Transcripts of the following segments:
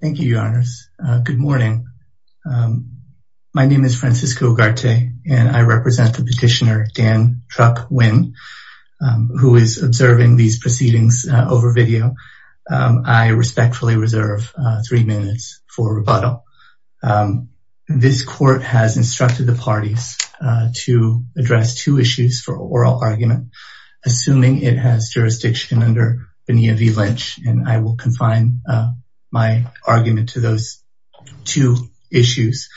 Thank you, Your Honors. Good morning. My name is Francisco Ugarte, and I represent the petitioner Dan Truk Huynh, who is observing these proceedings over video. I respectfully reserve three minutes for rebuttal. This court has instructed the parties to address two issues for oral argument, assuming it has jurisdiction under Bonilla v. Lynch, and I will confine my argument to those two issues.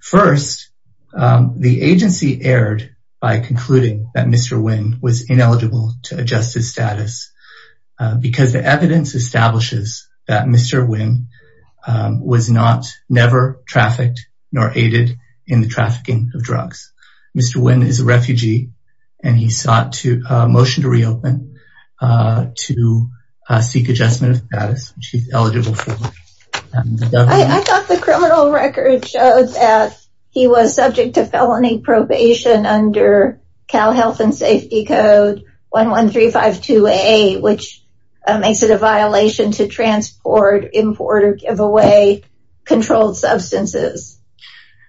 First, the agency erred by concluding that Mr. Huynh was ineligible to adjust his status because the evidence establishes that Mr. Huynh was never trafficked nor aided in the trafficking of drugs. Mr. Huynh is a refugee, and he sought a motion to reopen to seek adjustment of status. I thought the criminal record showed that he was subject to felony probation under Cal Health and Safety Code 11352A, which makes it a violation to transport, import, or give away controlled substances,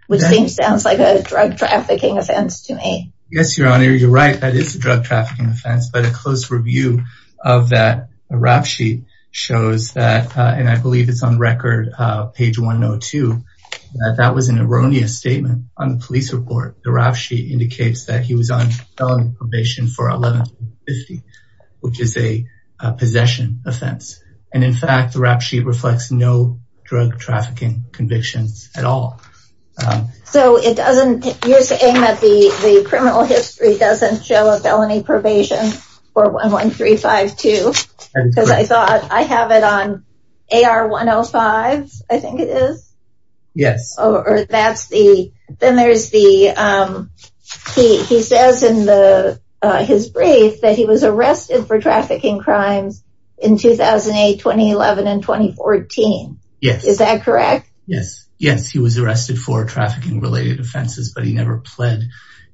which sounds like a drug trafficking offense to me. Yes, Your Honor, you're right. That is a drug trafficking offense, but a close review of that rap sheet shows that, and I believe it's on record, page 102, that that was an erroneous statement on the police report. The rap sheet indicates that he was on felony probation for 1150, which is a possession offense, and in fact, the rap sheet reflects no drug trafficking convictions at all. So, you're saying that the criminal history doesn't show a felony probation for 11352, because I thought I have it on AR 105, I think it is? Yes. Or that's the, then there's the, he says in the, his brief that he was arrested for trafficking crimes in 2008, 2011, and 2014. Yes. Is that correct? Yes, yes, he was arrested for trafficking related offenses, but he never pled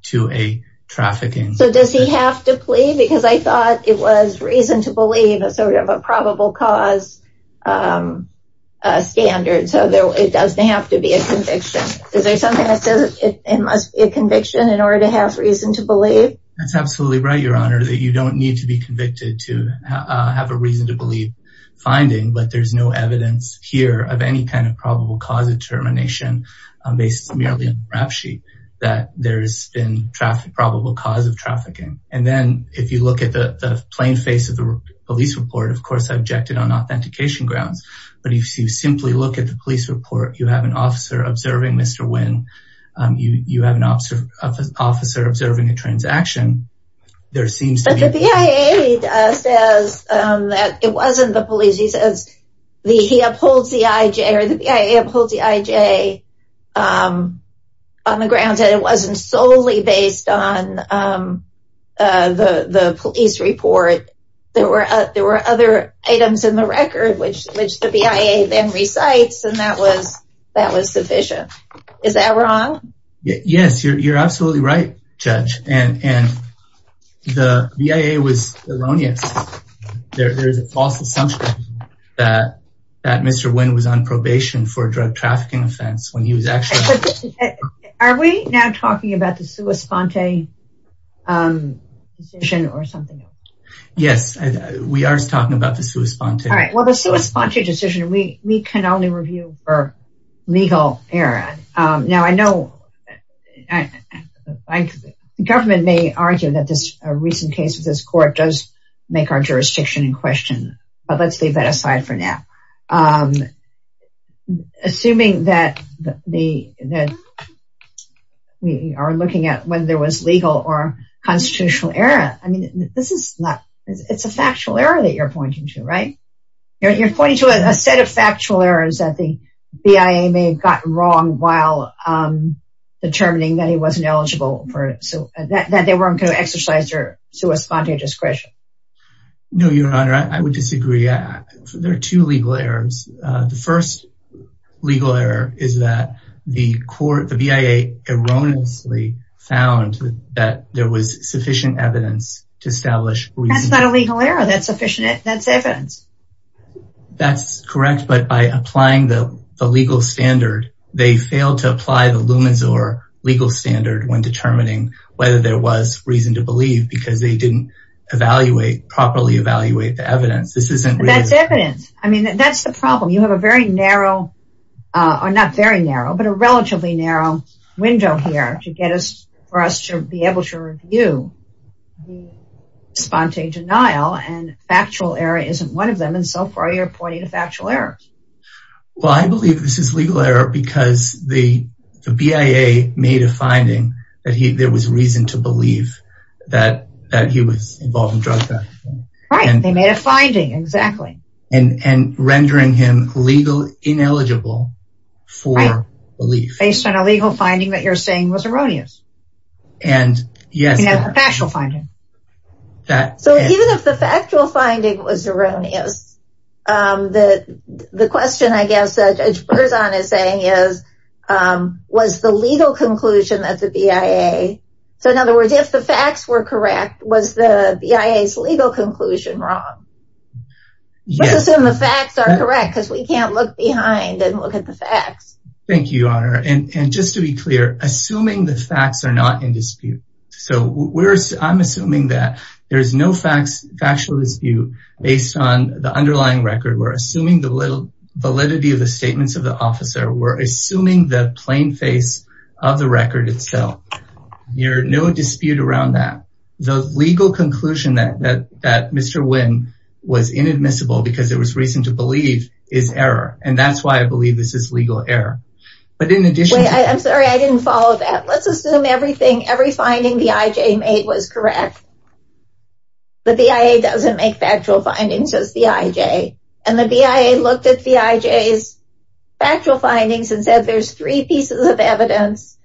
to a trafficking. So, does he have to plead? Because I thought it was reason to believe a sort of a probable cause standard, so there, it doesn't have to be a conviction. Is there something that says it must be a conviction in order to have reason to believe? That's absolutely right, Your Honor, that you don't need to be convicted to have a reason to believe finding, but there's no evidence here of any kind of probable cause determination based merely on the rap sheet that there's been traffic, probable cause of trafficking. And then, if you look at the plain face of the police report, of course, I objected on authentication grounds, but if you simply look at the police report, you have an officer observing Mr. Nguyen, you have an officer observing a transaction, there seems to be... But the BIA says that it wasn't the police, he says he upholds the IJ, or the BIA upholds the IJ on the grounds that it which the BIA then recites, and that was sufficient. Is that wrong? Yes, you're absolutely right, Judge, and the BIA was erroneous. There is a false assumption that Mr. Nguyen was on probation for a drug trafficking offense when he was actually... Are we now talking about the All right, well, the sui sponte decision, we can only review for legal error. Now, I know the government may argue that this recent case with this court does make our jurisdiction in question, but let's leave that aside for now. Assuming that we are looking at whether there was legal or constitutional error, I mean, this is not... It's a factual error that you're pointing to, right? You're pointing to a set of factual errors that the BIA may have gotten wrong while determining that he wasn't eligible for... So that they weren't going to exercise their sui sponte discretion. No, Your Honor, I would disagree. There are two legal errors. The first legal error is that the court, the BIA erroneously found that there was sufficient evidence to establish... That's not a legal error. That's evidence. That's correct, but by applying the legal standard, they failed to apply the Lumisor legal standard when determining whether there was reason to believe because they didn't properly evaluate the evidence. This isn't... That's evidence. I mean, that's the problem. You have a very narrow, or not very narrow, but a relatively narrow window here to get us, for us to be able to review the suponte denial, and factual error isn't one of them, and so far you're pointing to factual errors. Well, I believe this is legal error because the BIA made a finding that there was reason to believe that he was involved in drug trafficking. Right, they made a finding, exactly. And rendering him legally ineligible for belief. Based on a legal finding that you're saying was erroneous. And yes, a factual finding. So even if the factual finding was erroneous, the question I guess that Judge Berzon is saying is, was the legal conclusion that the BIA, so in other words, if the facts were correct, was the BIA's legal conclusion wrong? Let's assume the facts are correct because we can't look behind and look at the facts. Thank you, Honor. And just to be clear, assuming the facts are not in dispute. So I'm assuming that there is no factual dispute based on the underlying record. We're assuming the validity of the statements of the officer. We're assuming that the legal conclusion that Mr. Nguyen was inadmissible because there was reason to believe is error. And that's why I believe this is legal error. But in addition to that... I'm sorry, I didn't follow that. Let's assume everything, every finding the IJ made was correct. The BIA doesn't make factual findings, says the IJ. And the BIA looked at the IJ's factual findings and said there's three pieces of evidence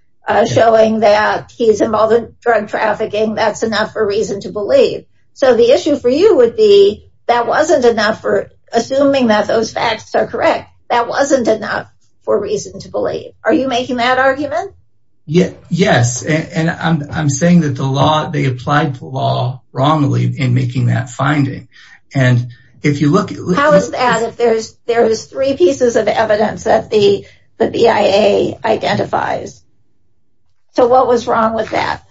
showing that he's involved in drug trafficking. That's enough for reason to believe. So the issue for you would be that wasn't enough for assuming that those facts are correct. That wasn't enough for reason to believe. Are you making that argument? Yes. And I'm saying that the law, they applied the law wrongly in making that finding. And if you look... How is that if there's three pieces of evidence that the BIA identifies? So what was wrong with that?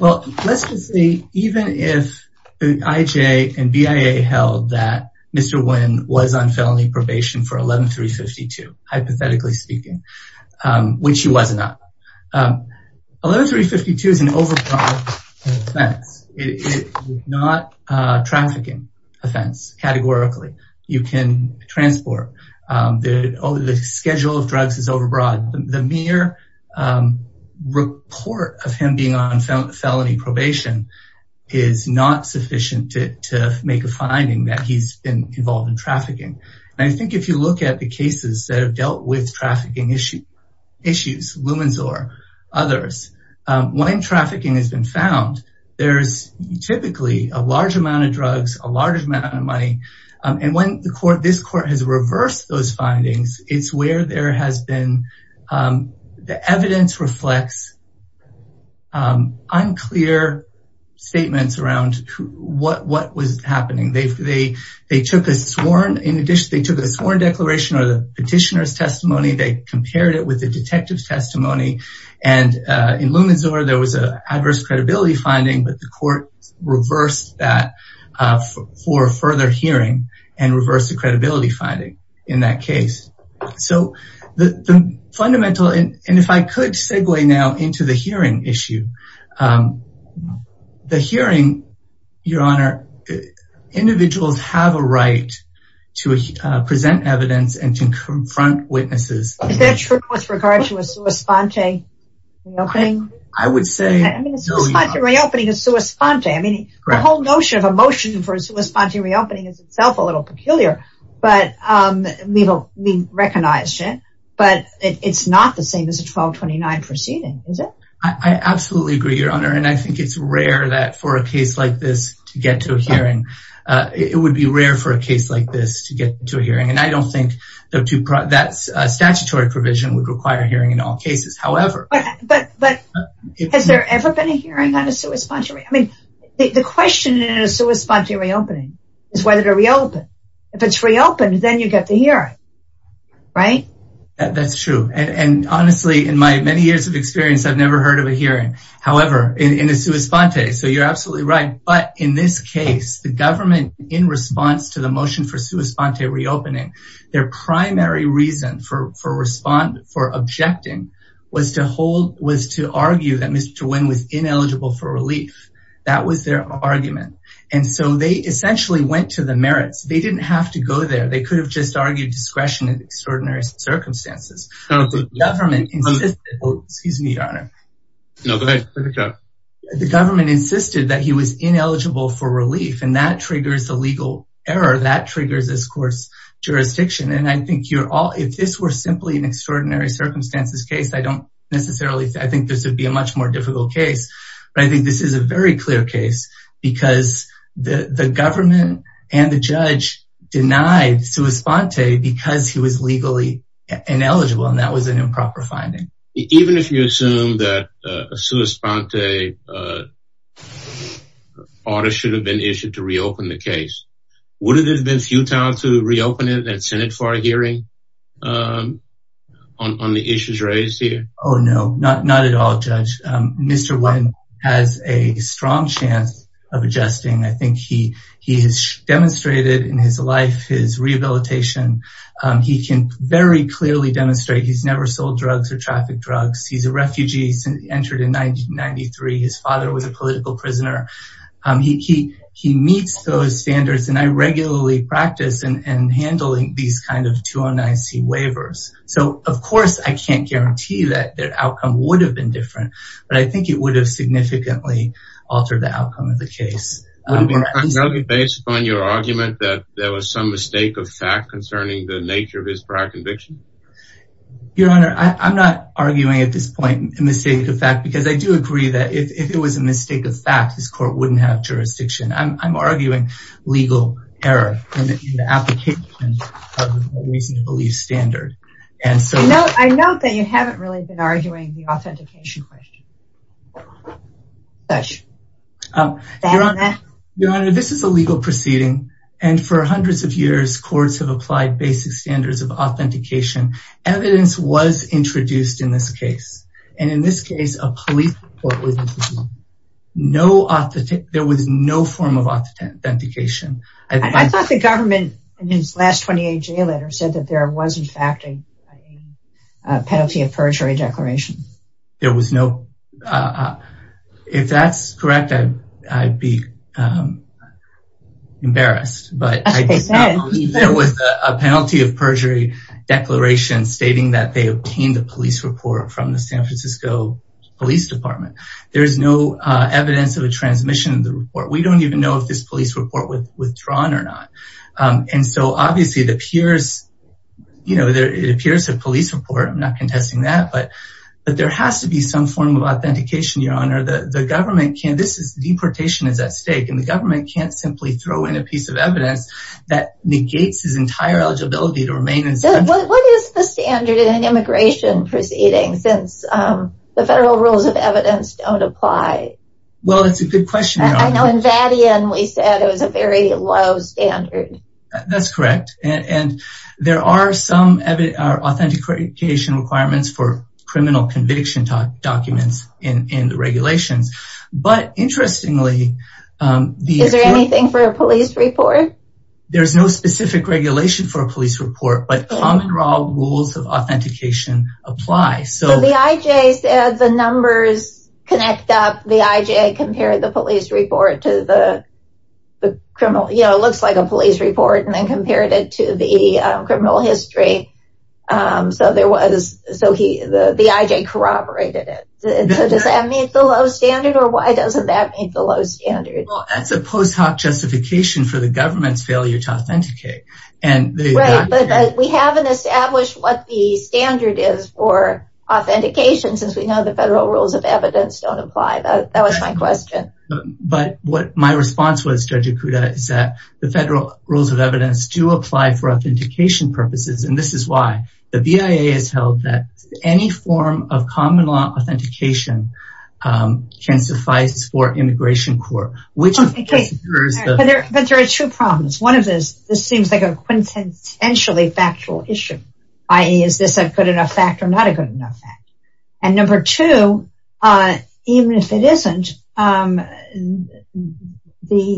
Well, let's just say even if the IJ and BIA held that Mr. Nguyen was on felony probation for 11-352, hypothetically speaking, which he was not. 11-352 is an overbroad offense. It is not a trafficking offense, categorically. You can transport. The schedule of drugs is overbroad. The mere report of him being on felony probation is not sufficient to make a finding that he's been involved in trafficking. And I think if you look at the cases that have dealt with trafficking issues, Lumensor, others, when trafficking has been found, there's typically a large amount of drugs, a large amount of money. And when this court has reversed those findings, it's where there has been... The evidence reflects unclear statements around what was happening. They took a sworn declaration or the petitioner's testimony. They compared it with the detective's testimony. And in Lumensor, there was an adverse hearing and reversed the credibility finding in that case. So the fundamental... And if I could segue now into the hearing issue. The hearing, Your Honor, individuals have a right to present evidence and to confront witnesses. Is that true with regard to a sua sponte reopening? I would say... I mean, a sua sponte reopening is sua sponte. I mean, the whole notion of a motion for a sua sponte reopening is itself a little peculiar, but we recognized it. But it's not the same as a 1229 proceeding, is it? I absolutely agree, Your Honor. And I think it's rare that for a case like this to get to a hearing. It would be rare for a case like this to get to a hearing. And I don't think that's a statutory provision would require hearing in all cases. But has there ever been a hearing on a sua sponte? I mean, the question in a sua sponte reopening is whether to reopen. If it's reopened, then you get the hearing, right? That's true. And honestly, in my many years of experience, I've never heard of a hearing, however, in a sua sponte. So you're absolutely right. But in this case, the government, in response to the motion for sua sponte reopening, their primary reason for responding, for objecting, was to hold, was to argue that Mr. Nguyen was ineligible for relief. That was their argument. And so they essentially went to the merits, they didn't have to go there, they could have just argued discretion in extraordinary circumstances. Excuse me, Your Honor. The government insisted that he was ineligible for relief. And that triggers the legal error triggers this court's jurisdiction. And I think you're all if this were simply an extraordinary circumstances case, I don't necessarily think this would be a much more difficult case. But I think this is a very clear case, because the government and the judge denied sua sponte because he was legally ineligible. And that was an improper finding. Even if you assume that a sua sponte artist should have been issued to reopen the case, would it have been futile to reopen it and send it for a hearing on the issues raised here? Oh, no, not not at all, Judge. Mr. Nguyen has a strong chance of adjusting. I think he has demonstrated in his life his rehabilitation. He can very clearly demonstrate he's never sold drugs or trafficked drugs. He's a refugee entered in 1993. His father was a political prisoner. He he meets those standards. And I regularly practice and handling these kind of 209 C waivers. So of course, I can't guarantee that their outcome would have been different. But I think it would have significantly altered the outcome of the case. Based on your argument that there was some mistake of fact concerning the nature of his prior conviction. Your Honor, I'm not arguing at this point, a mistake of fact, because I do agree that if it was a mistake of fact, this court wouldn't have jurisdiction. I'm arguing legal error in the application of the reason to believe standard. And so I know that you haven't really been arguing the authentication question. Your Honor, this is a legal proceeding. And for hundreds of years, courts have applied basic standards of authentication. Evidence was introduced in this case. And in this case, a police report was introduced. There was no form of authentication. I thought the government in his last 28 day letter said that there was in fact a penalty of perjury declaration. If that's correct, I'd be embarrassed. But there was a penalty of perjury declaration stating that they obtained a police report from the San Francisco Police Department. There is no evidence of a transmission of the report. We don't even know if this police report was withdrawn or not. And so obviously, it appears a police report. I'm not contesting that. But there has to be some form of authentication, Your Honor. Deportation is at stake. And the government can't simply throw in a piece of evidence that negates his entire eligibility to remain. What is the standard in an immigration proceeding since the federal rules of evidence don't apply? Well, that's a good question. I know in Vadian, we said it was a very low standard. That's correct. And there are some authentication requirements for criminal conviction documents in the regulations. But interestingly, Is there anything for a police report? There's no specific regulation for a police report, but common law rules of authentication apply. So the IJ said the numbers connect up. The IJ compared the police report to the criminal, you know, it looks like a police report and then compared it to the so there was so he the IJ corroborated it. Does that mean the low standard? Or why doesn't that make the low standard? Well, that's a post hoc justification for the government's failure to authenticate. And we haven't established what the standard is for authentication, since we know the federal rules of evidence don't apply. That was my question. But what my response was, Judge Ikuda, is that the federal rules of evidence do apply for the BIA has held that any form of common law authentication can suffice for immigration court. But there are two problems. One of this, this seems like a quintessentially factual issue. I is this a good enough fact or not a good enough fact. And number two, even if it isn't the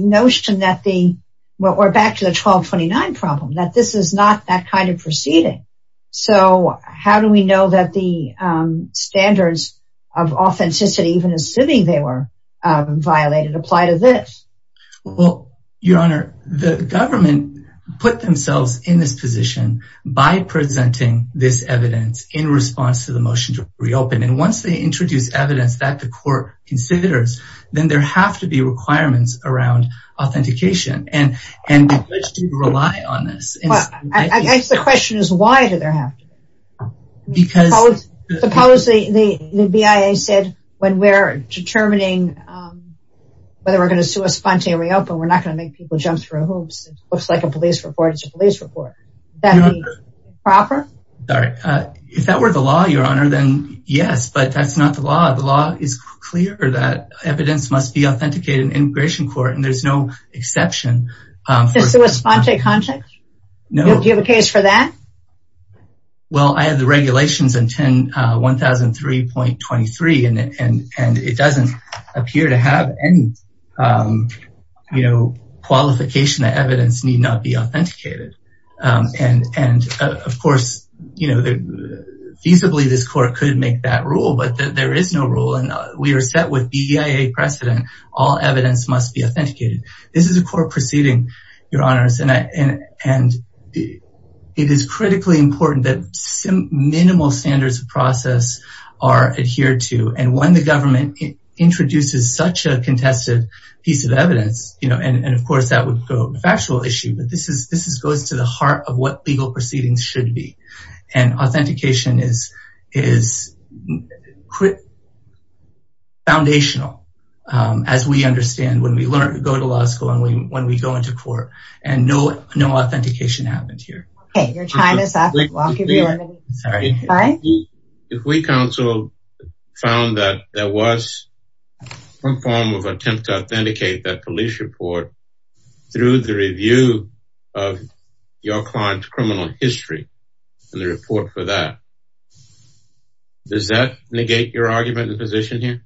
notion that the we're back to the 1229 problem that this is not that kind of proceeding. So how do we know that the standards of authenticity even assuming they were violated apply to this? Well, Your Honor, the government put themselves in this position by presenting this evidence in response to the motion to reopen. And once they introduce evidence that the court considers, then there have to be requirements around authentication. And, and rely on this. I guess the question is, why do they have to? Because the policy the BIA said, when we're determining whether we're going to sue us spontaneously open, we're not going to make people jump through hoops. It looks like a police report. It's a police report that proper. If that were the law, Your Honor, then yes, but that's not the law. The law is clear that evidence must be authenticated in immigration court. And there's no exception. So a spontaneous contact? No. Do you have a case for that? Well, I had the regulations in 1003.23. And it doesn't appear to have any, you know, qualification that evidence need not be authenticated. And, and, of course, you know, feasibly, this court could make that rule, but there is no rule and we are set with BIA precedent, all evidence must be authenticated. This is a court proceeding, Your Honors. And, and it is critically important that some minimal standards of process are adhered to. And when the government introduces such a contested piece of evidence, you know, and of course, that would go factual issue. But this is this is goes to the heart of what legal proceedings should be. And authentication is foundational, as we understand when we learn to go to law school and when we go into court, and no, no authentication happened here. Okay, your time is up. If we counsel found that there was some form of attempt to authenticate that police report through the review of your client's criminal history, and the report for that. Does that negate your argument in position here?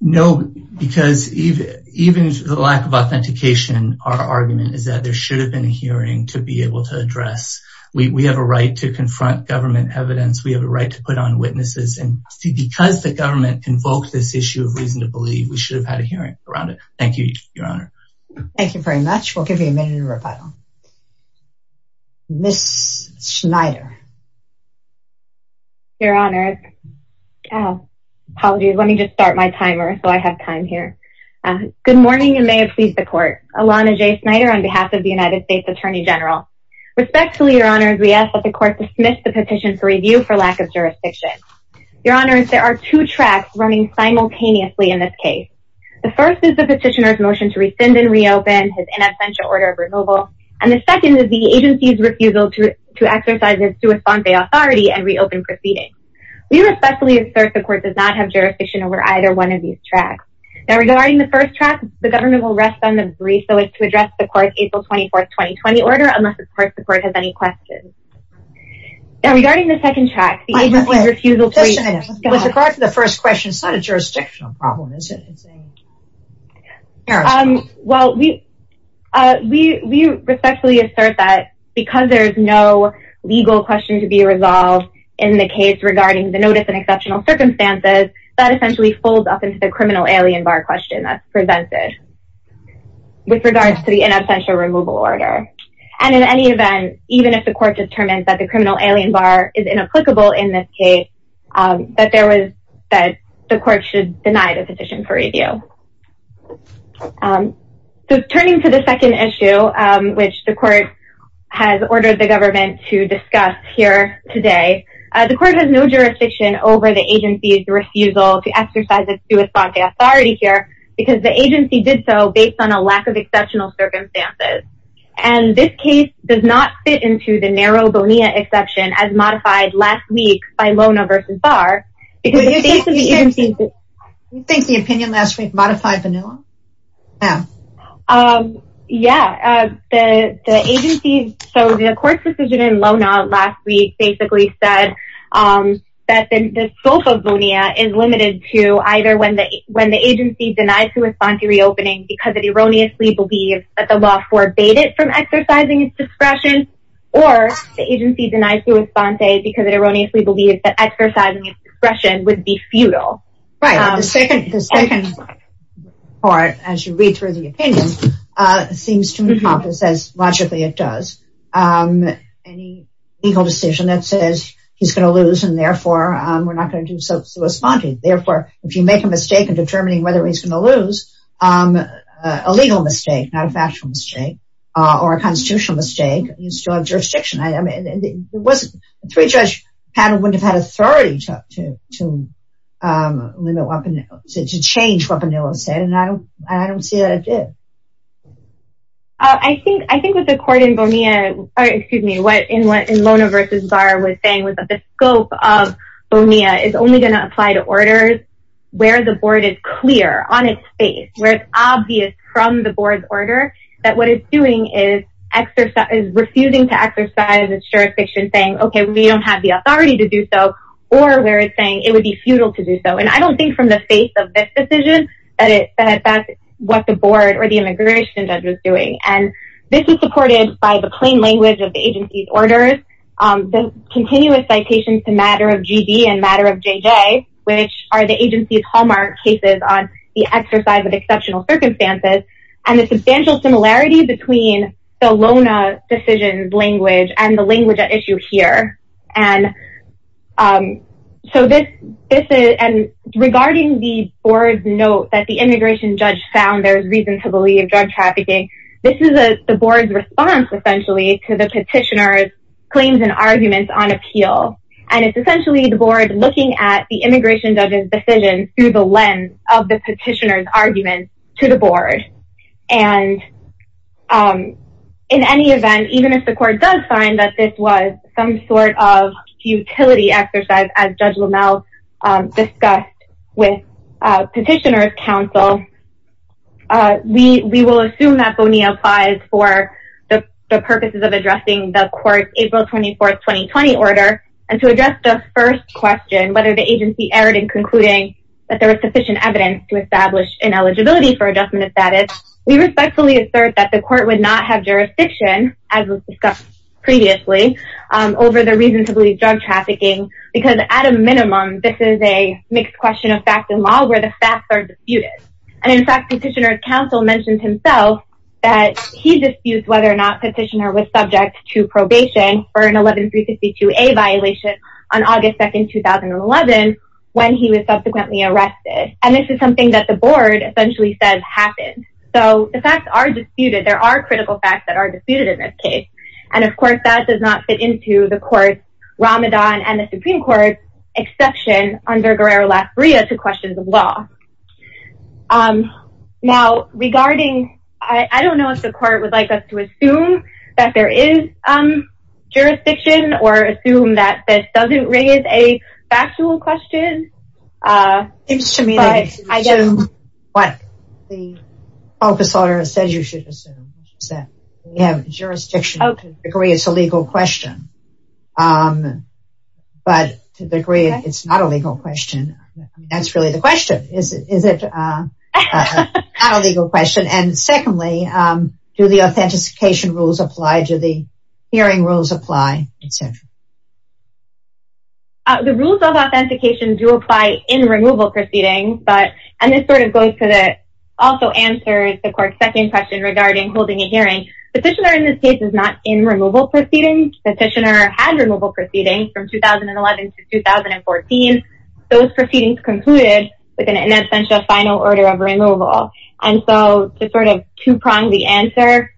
No, because even even the lack of authentication, our argument is that there should have been a hearing to be able to address, we have a right to confront government evidence, we have a right to put on witnesses and see because the government invoked this issue of reason to believe we had a hearing around it. Thank you, Your Honor. Thank you very much. We'll give you a minute to rebuttal. Miss Schneider. Your Honor. Apologies, let me just start my timer. So I have time here. Good morning and may it please the court. Alana J. Snyder on behalf of the United States Attorney General. Respectfully, Your Honor, we ask that the court dismiss the petition for review for lack of jurisdiction. Your Honor, there are two tracks running simultaneously in this case. The first is the petitioner's motion to rescind and reopen his in absentia order of removal. And the second is the agency's refusal to to exercise its due esponse authority and reopen proceedings. We respectfully assert the court does not have jurisdiction over either one of these tracks. Now regarding the first track, the government will rest on the brief so as to address the court's April 24, 2020 order unless the court has any questions. Now regarding the second track, the agency's refusal... Miss Schneider, with regard to the first question, it's not a jurisdictional problem, is it? Well, we respectfully assert that because there's no legal question to be resolved in the case regarding the notice and exceptional circumstances, that essentially folds up into the criminal alien bar question that's presented with regards to the in absentia removal order. And in any event, even if the court determines that the criminal alien bar is inapplicable in this case, that there was that the court should deny the petition for review. So turning to the second issue, which the court has ordered the government to discuss here today, the court has no jurisdiction over the agency's refusal to exercise its due esponse authority here because the agency did so based on a lack of exceptional circumstances. And this case does not fit into the narrow Bonilla exception as modified last week by Lona versus Barr. You think the opinion last week modified Bonilla? Yeah, the agency... So the court's decision in Lona last week basically said that the scope of Bonilla is limited to either when the agency denies due esponse reopening because it erroneously believes that the law forbade it from exercising its discretion, or the agency denies due esponse because it erroneously believes that exercising its discretion would be futile. Right. The second part, as you read through the opinion, seems to encompass as logically it does. Any legal decision that says he's going to lose and therefore, we're not going to do so due esponse. Therefore, if you make a mistake in determining whether he's going to lose, a legal mistake, not a factual mistake, or a constitutional mistake, you still have jurisdiction. A three-judge panel wouldn't have had authority to change what Bonilla said, and I don't see that it did. I think with the court in Bonilla, or excuse me, what Lona versus Barr was saying was that the scope of Bonilla is only going to apply to orders where the board is clear on its face, where it's obvious from the board's order that what it's doing is refusing to exercise its jurisdiction saying, okay, we don't have the authority to do so, or where it's saying it would be futile to do so. And I don't think from the face of this decision that that's what the board or the immigration judge was doing. And this is supported by the plain language of the agency's orders, the continuous citations to matter of GB and matter of JJ, which are the agency's hallmark cases on the exercise of exceptional circumstances, and the substantial similarity between the Lona decision's language and the language at issue here. And so this is, and regarding the board's note that the immigration judge found there's reason to believe drug trafficking, this is the board's response, essentially, to the petitioner's arguments on appeal. And it's essentially the board looking at the immigration judge's decision through the lens of the petitioner's arguments to the board. And in any event, even if the court does find that this was some sort of utility exercise, as Judge Lomel discussed with petitioner's counsel, we will assume that Bonilla applies for the purposes of addressing the court's April 24 2020 order. And to address the first question, whether the agency erred in concluding that there was sufficient evidence to establish an eligibility for adjustment of status, we respectfully assert that the court would not have jurisdiction, as was discussed previously, over the reason to believe drug trafficking, because at a minimum, this is a mixed question of fact and law where the facts are disputed. And in fact, petitioner's that he disputes whether or not petitioner was subject to probation for an 11352a violation on August 2, 2011, when he was subsequently arrested. And this is something that the board essentially says happened. So the facts are disputed, there are critical facts that are disputed in this case. And of course, that does not fit into the court's Ramadan and the Supreme Court's exception under Guerrero-Las Breas to questions of law. Now, regarding, I don't know if the court would like us to assume that there is jurisdiction or assume that this doesn't raise a factual question. It seems to me that it's what the office order says you should assume that you have jurisdiction to the degree it's a legal question. But to the degree, it's not a legal question. That's really the question is, is it not a legal question? And secondly, do the authentication rules apply to the hearing rules apply, etc. The rules of authentication do apply in removal proceedings, but and this sort of goes to that also answers the court's second question regarding holding a hearing. Petitioner in this case is not in removal proceedings. Petitioner had removal proceedings from 2011 to 2014. Those proceedings concluded with an in absentia final order of removal. And so to sort of two prong the answer.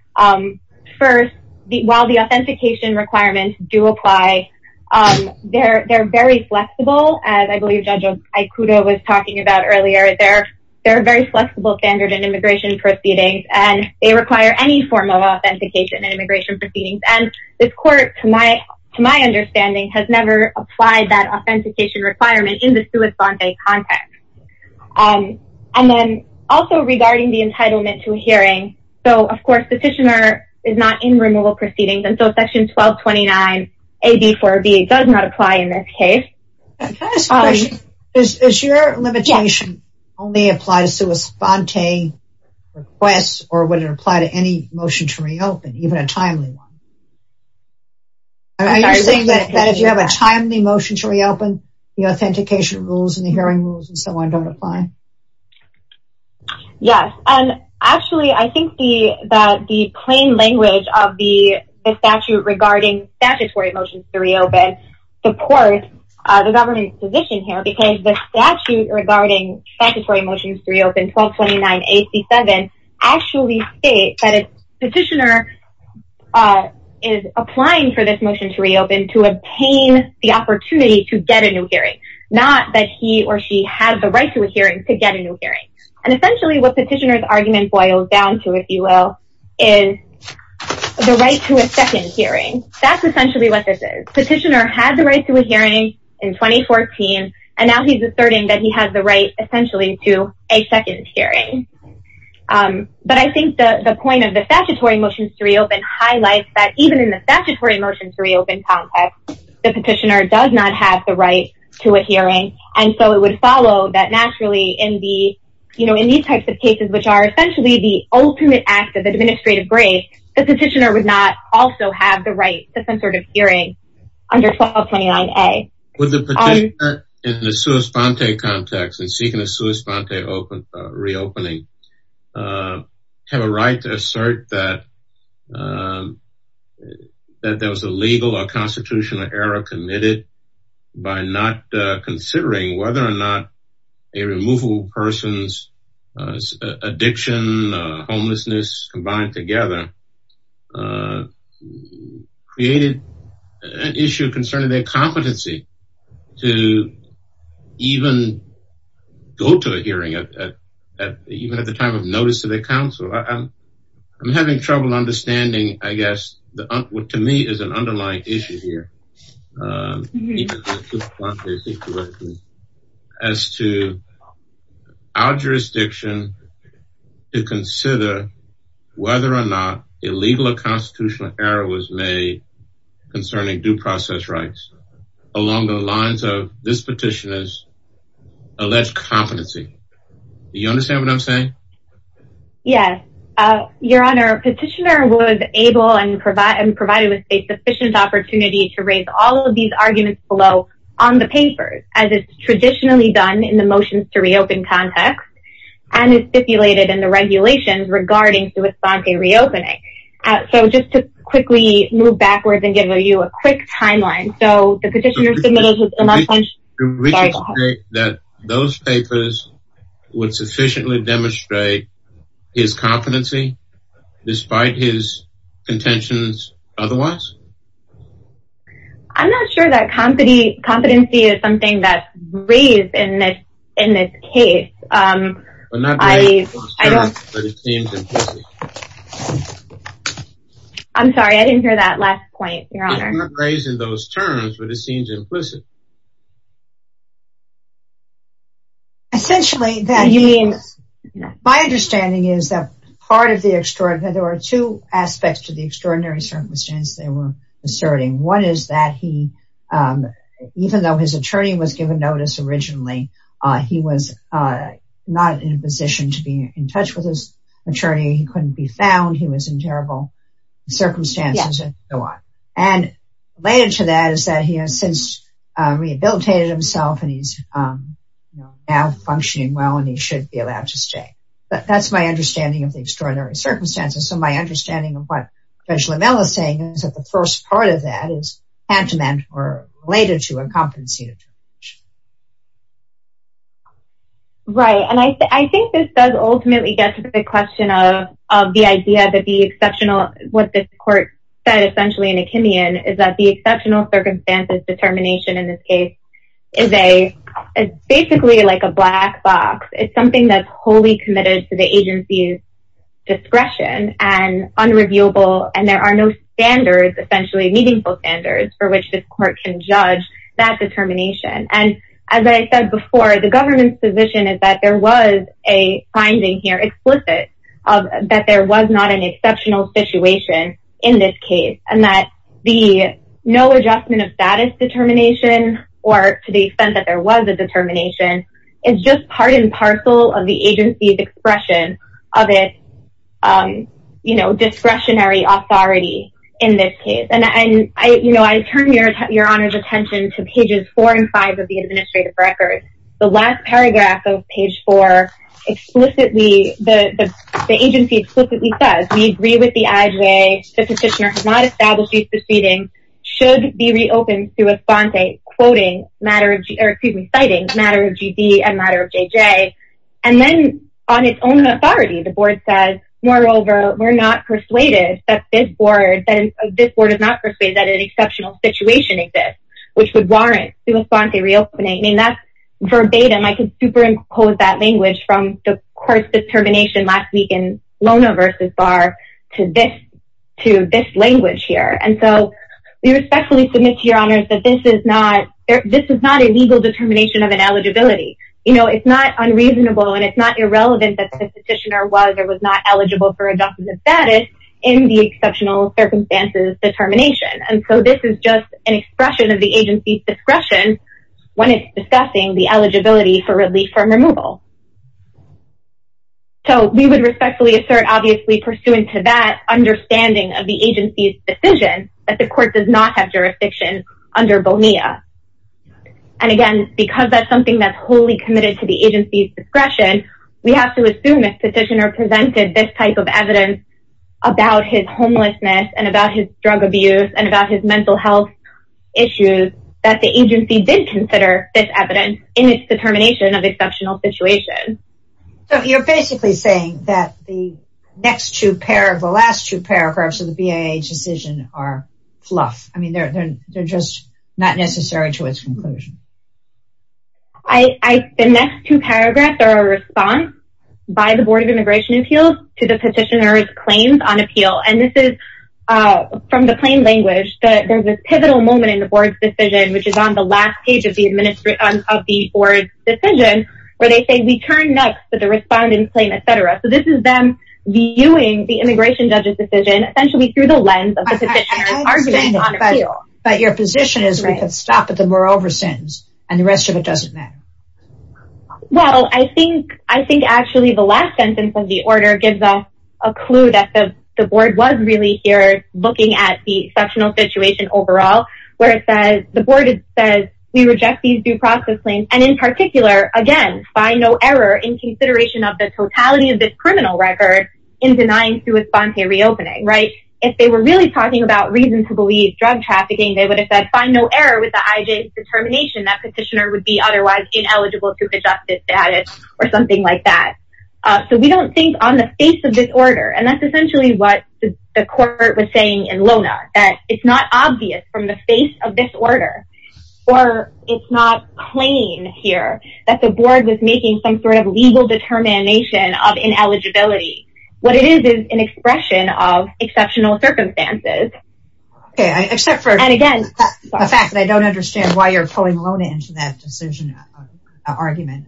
First, the while the authentication requirements do apply, they're very flexible, as I believe Judge Aikudo was talking about earlier, they're, they're very flexible standard and immigration proceedings, and they require any form of authentication and immigration proceedings. And this court, to my, to my understanding, has never applied that authentication requirement in the sui sante context. And then also regarding the entitlement to a hearing. So of course, the petitioner is not in removal proceedings. And so section 1229, AB 4B does not apply in this case. Is your limitation only apply to sui sante requests or would it apply to any motion to reopen even a timely one? Are you saying that if you have a timely motion to reopen, the authentication rules and the hearing rules and so on don't apply? Yes. And actually, I think the that the plain language of the statute regarding statutory motions to reopen support the government's position here because the statute regarding statutory motions to reopen 1229, AB 7, actually state that a petitioner is applying for this motion to reopen to obtain the opportunity to get a new hearing, not that he or she had the right to hearing to get a new hearing. And essentially what petitioners argument boils down to, if you will, is the right to a second hearing. That's essentially what this is. Petitioner has the right to a hearing in 2014. And now he's asserting that he has the right essentially to a second hearing. But I think the point of the statutory motions to reopen highlights that even in the statutory motions to reopen context, the petitioner does not have the right to a hearing. And so it would follow that naturally in the, you know, in these types of cases, which are essentially the ultimate act of administrative grace, the petitioner would not also have the right to some sort of hearing under 1229A. Would the petitioner in the sua sponte context and seeking a sua sponte reopening have a right to assert that there was a legal or constitutional error committed by not considering whether or not a removable person's addiction, homelessness combined together created an issue concerning their competency to even go to a hearing, even at the time of notice to the council. I'm having trouble understanding, I guess, to me is an underlying issue here as to our jurisdiction to consider whether or not illegal or constitutional error was made concerning due process rights along the lines of this petitioner's alleged competency. Do you understand what I'm saying? Yes, your honor petitioner was able and provide and provided with a sufficient opportunity to raise all of these arguments below on the papers as it's traditionally done in the motions to reopen context and is stipulated in the regulations regarding sua sponte reopening. So just to quickly move backwards and give you a quick timeline. So the petitioner was able to reach a state that those papers would sufficiently demonstrate his competency despite his contentions otherwise? I'm not sure that competency is something that's raised in this case. I'm sorry, I didn't hear that last point, your honor. Raised in those terms, but it seems implicit. Essentially, that means, my understanding is that part of the extraordinary, there are two aspects to the extraordinary circumstance they were asserting. One is that he, even though his attorney was given notice originally, he was not in a position to be in touch with his attorney, he couldn't be found, he was in terrible circumstances. And later to that is that he has since rehabilitated himself and he's now functioning well and he should be allowed to stay. But that's my understanding of the extraordinary circumstances. So my understanding of what Judge Lamela is saying is that the first part of that is tantamount or related to a competency. Right, and I think this does ultimately get to the question of the idea that the exceptional what this court said essentially in Achimian is that the exceptional circumstances determination in this case is basically like a black box. It's something that's wholly committed to the agency's discretion and unreviewable and there are no standards, essentially meaningful standards for which this court can judge that determination. And as I said before, the government's position is that there was a finding here explicit that there was not an exceptional situation in this case and that the no adjustment of status determination or to the extent that there was a determination is just part and parcel of the agency's expression of its discretionary authority in this case. And I turn your honor's attention to pages four and five of page four. Explicitly, the agency explicitly says we agree with the IJ, the petitioner has not established the proceeding should be reopened to a font a quoting matter of excuse me, citing matter of GD and matter of JJ. And then on its own authority, the board says, moreover, we're not persuaded that this board and this board is not persuaded that an exceptional situation exists, which would warrant to a font a reopening. And that's verbatim, I can superimpose that language from the court's determination last week in Lona versus bar to this, to this language here. And so we respectfully submit to your honors that this is not, this is not a legal determination of an eligibility. You know, it's not unreasonable. And it's not irrelevant that the petitioner was or was not eligible for adjustment status in the exceptional circumstances determination. And so this is just an expression of the agency's discretion when it's discussing the eligibility for relief from removal. So we would respectfully assert obviously pursuant to that understanding of the agency's decision that the court does not have jurisdiction under Bonilla. And again, because that's something that's wholly committed to the agency's discretion, we have to assume this petitioner presented this type of evidence about his homelessness and about his drug abuse and about his mental health issues that the agency did consider this evidence in its determination of exceptional situation. So you're basically saying that the next two paragraphs, the last two paragraphs of the BIA decision are fluff. I mean, they're just not necessary to its conclusion. I the next two paragraphs are a response by the Board of Immigration Appeals to the petitioner's claims on appeal. And this is from the plain language that there's a pivotal moment in the board's decision, which is on the last page of the administration of the board decision, where they say we turn next to the responding claim, etc. So this is them viewing the immigration judge's decision essentially through the lens of the petitioner's argument on appeal. But your position is we could stop at the moreover sentence, and the rest of it doesn't matter. Well, I think I think actually the last sentence of the order gives us a clue that the board was really here looking at the sectional situation overall, where it says the board says we reject these due process claims. And in particular, again, by no error in consideration of the totality of this criminal record in denying through a spontaneous reopening, right? If they were really talking about reason to believe drug trafficking, they would have said by no error with the IJ determination that petitioner would be otherwise ineligible to the justice status, or something like that. So we don't think on the face of this order, and that's essentially what the court was saying in Lona, that it's not obvious from the face of this order. Or it's not plain here that the board was making some sort of legal determination of ineligibility. What it is is an expression of exceptional circumstances. Okay, except for and again, the fact that I don't understand why you're pulling alone into that argument.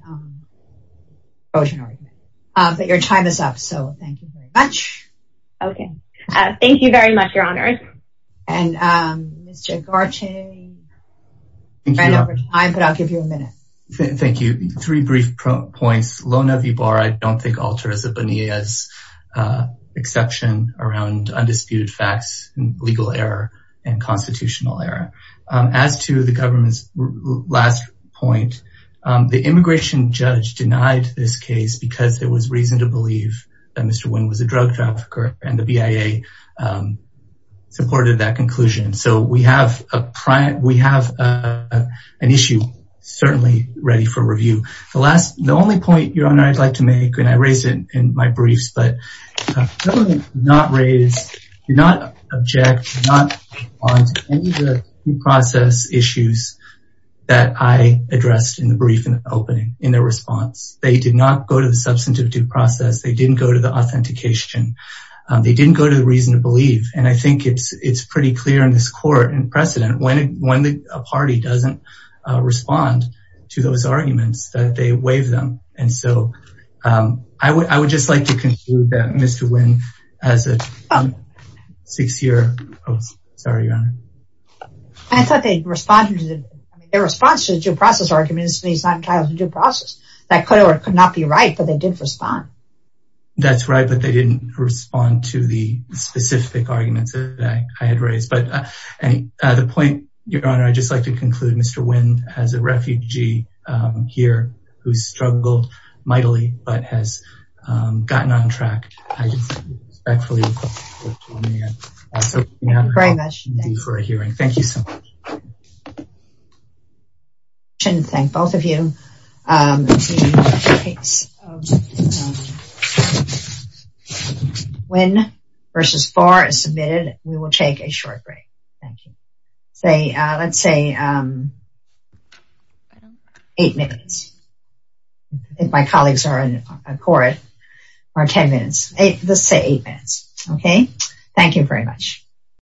But your time is up. So thank you very much. Okay. Thank you very much, Your Honor. And Mr. Garchin. Thank you for your time, but I'll give you a minute. Thank you. Three brief points. Lona V. Barr, I don't think alters a B'nai as exception around undisputed facts, legal error, and constitutional error. As to the government's last point, the immigration judge denied this case because there was reason to believe that Mr. Nguyen was a drug trafficker and the BIA supported that conclusion. So we have an issue, certainly ready for review. The only point, Your Honor, I'd like to make, and I raised it in my that I addressed in the brief in the opening in their response. They did not go to the substantive due process. They didn't go to the authentication. They didn't go to the reason to believe. And I think it's pretty clear in this court and precedent when a party doesn't respond to those arguments that they waive them. And so I would just like to conclude that Mr. Nguyen has a six-year post. Sorry, Your Honor. I thought they responded to the response to the due process arguments. He's not entitled to due process. That could or could not be right, but they did respond. That's right, but they didn't respond to the specific arguments that I had raised. But the point, Your Honor, I'd just like to conclude Mr. Nguyen has a refugee here who struggled mightily but has gotten on track. Thank you for a hearing. Thank you so much. I want to thank both of you. Nguyen versus Farr is submitted. We will take a short break. Thank you. Let's say eight minutes. I think my colleagues are in court. Let's say eight minutes. Okay. Thank you very much.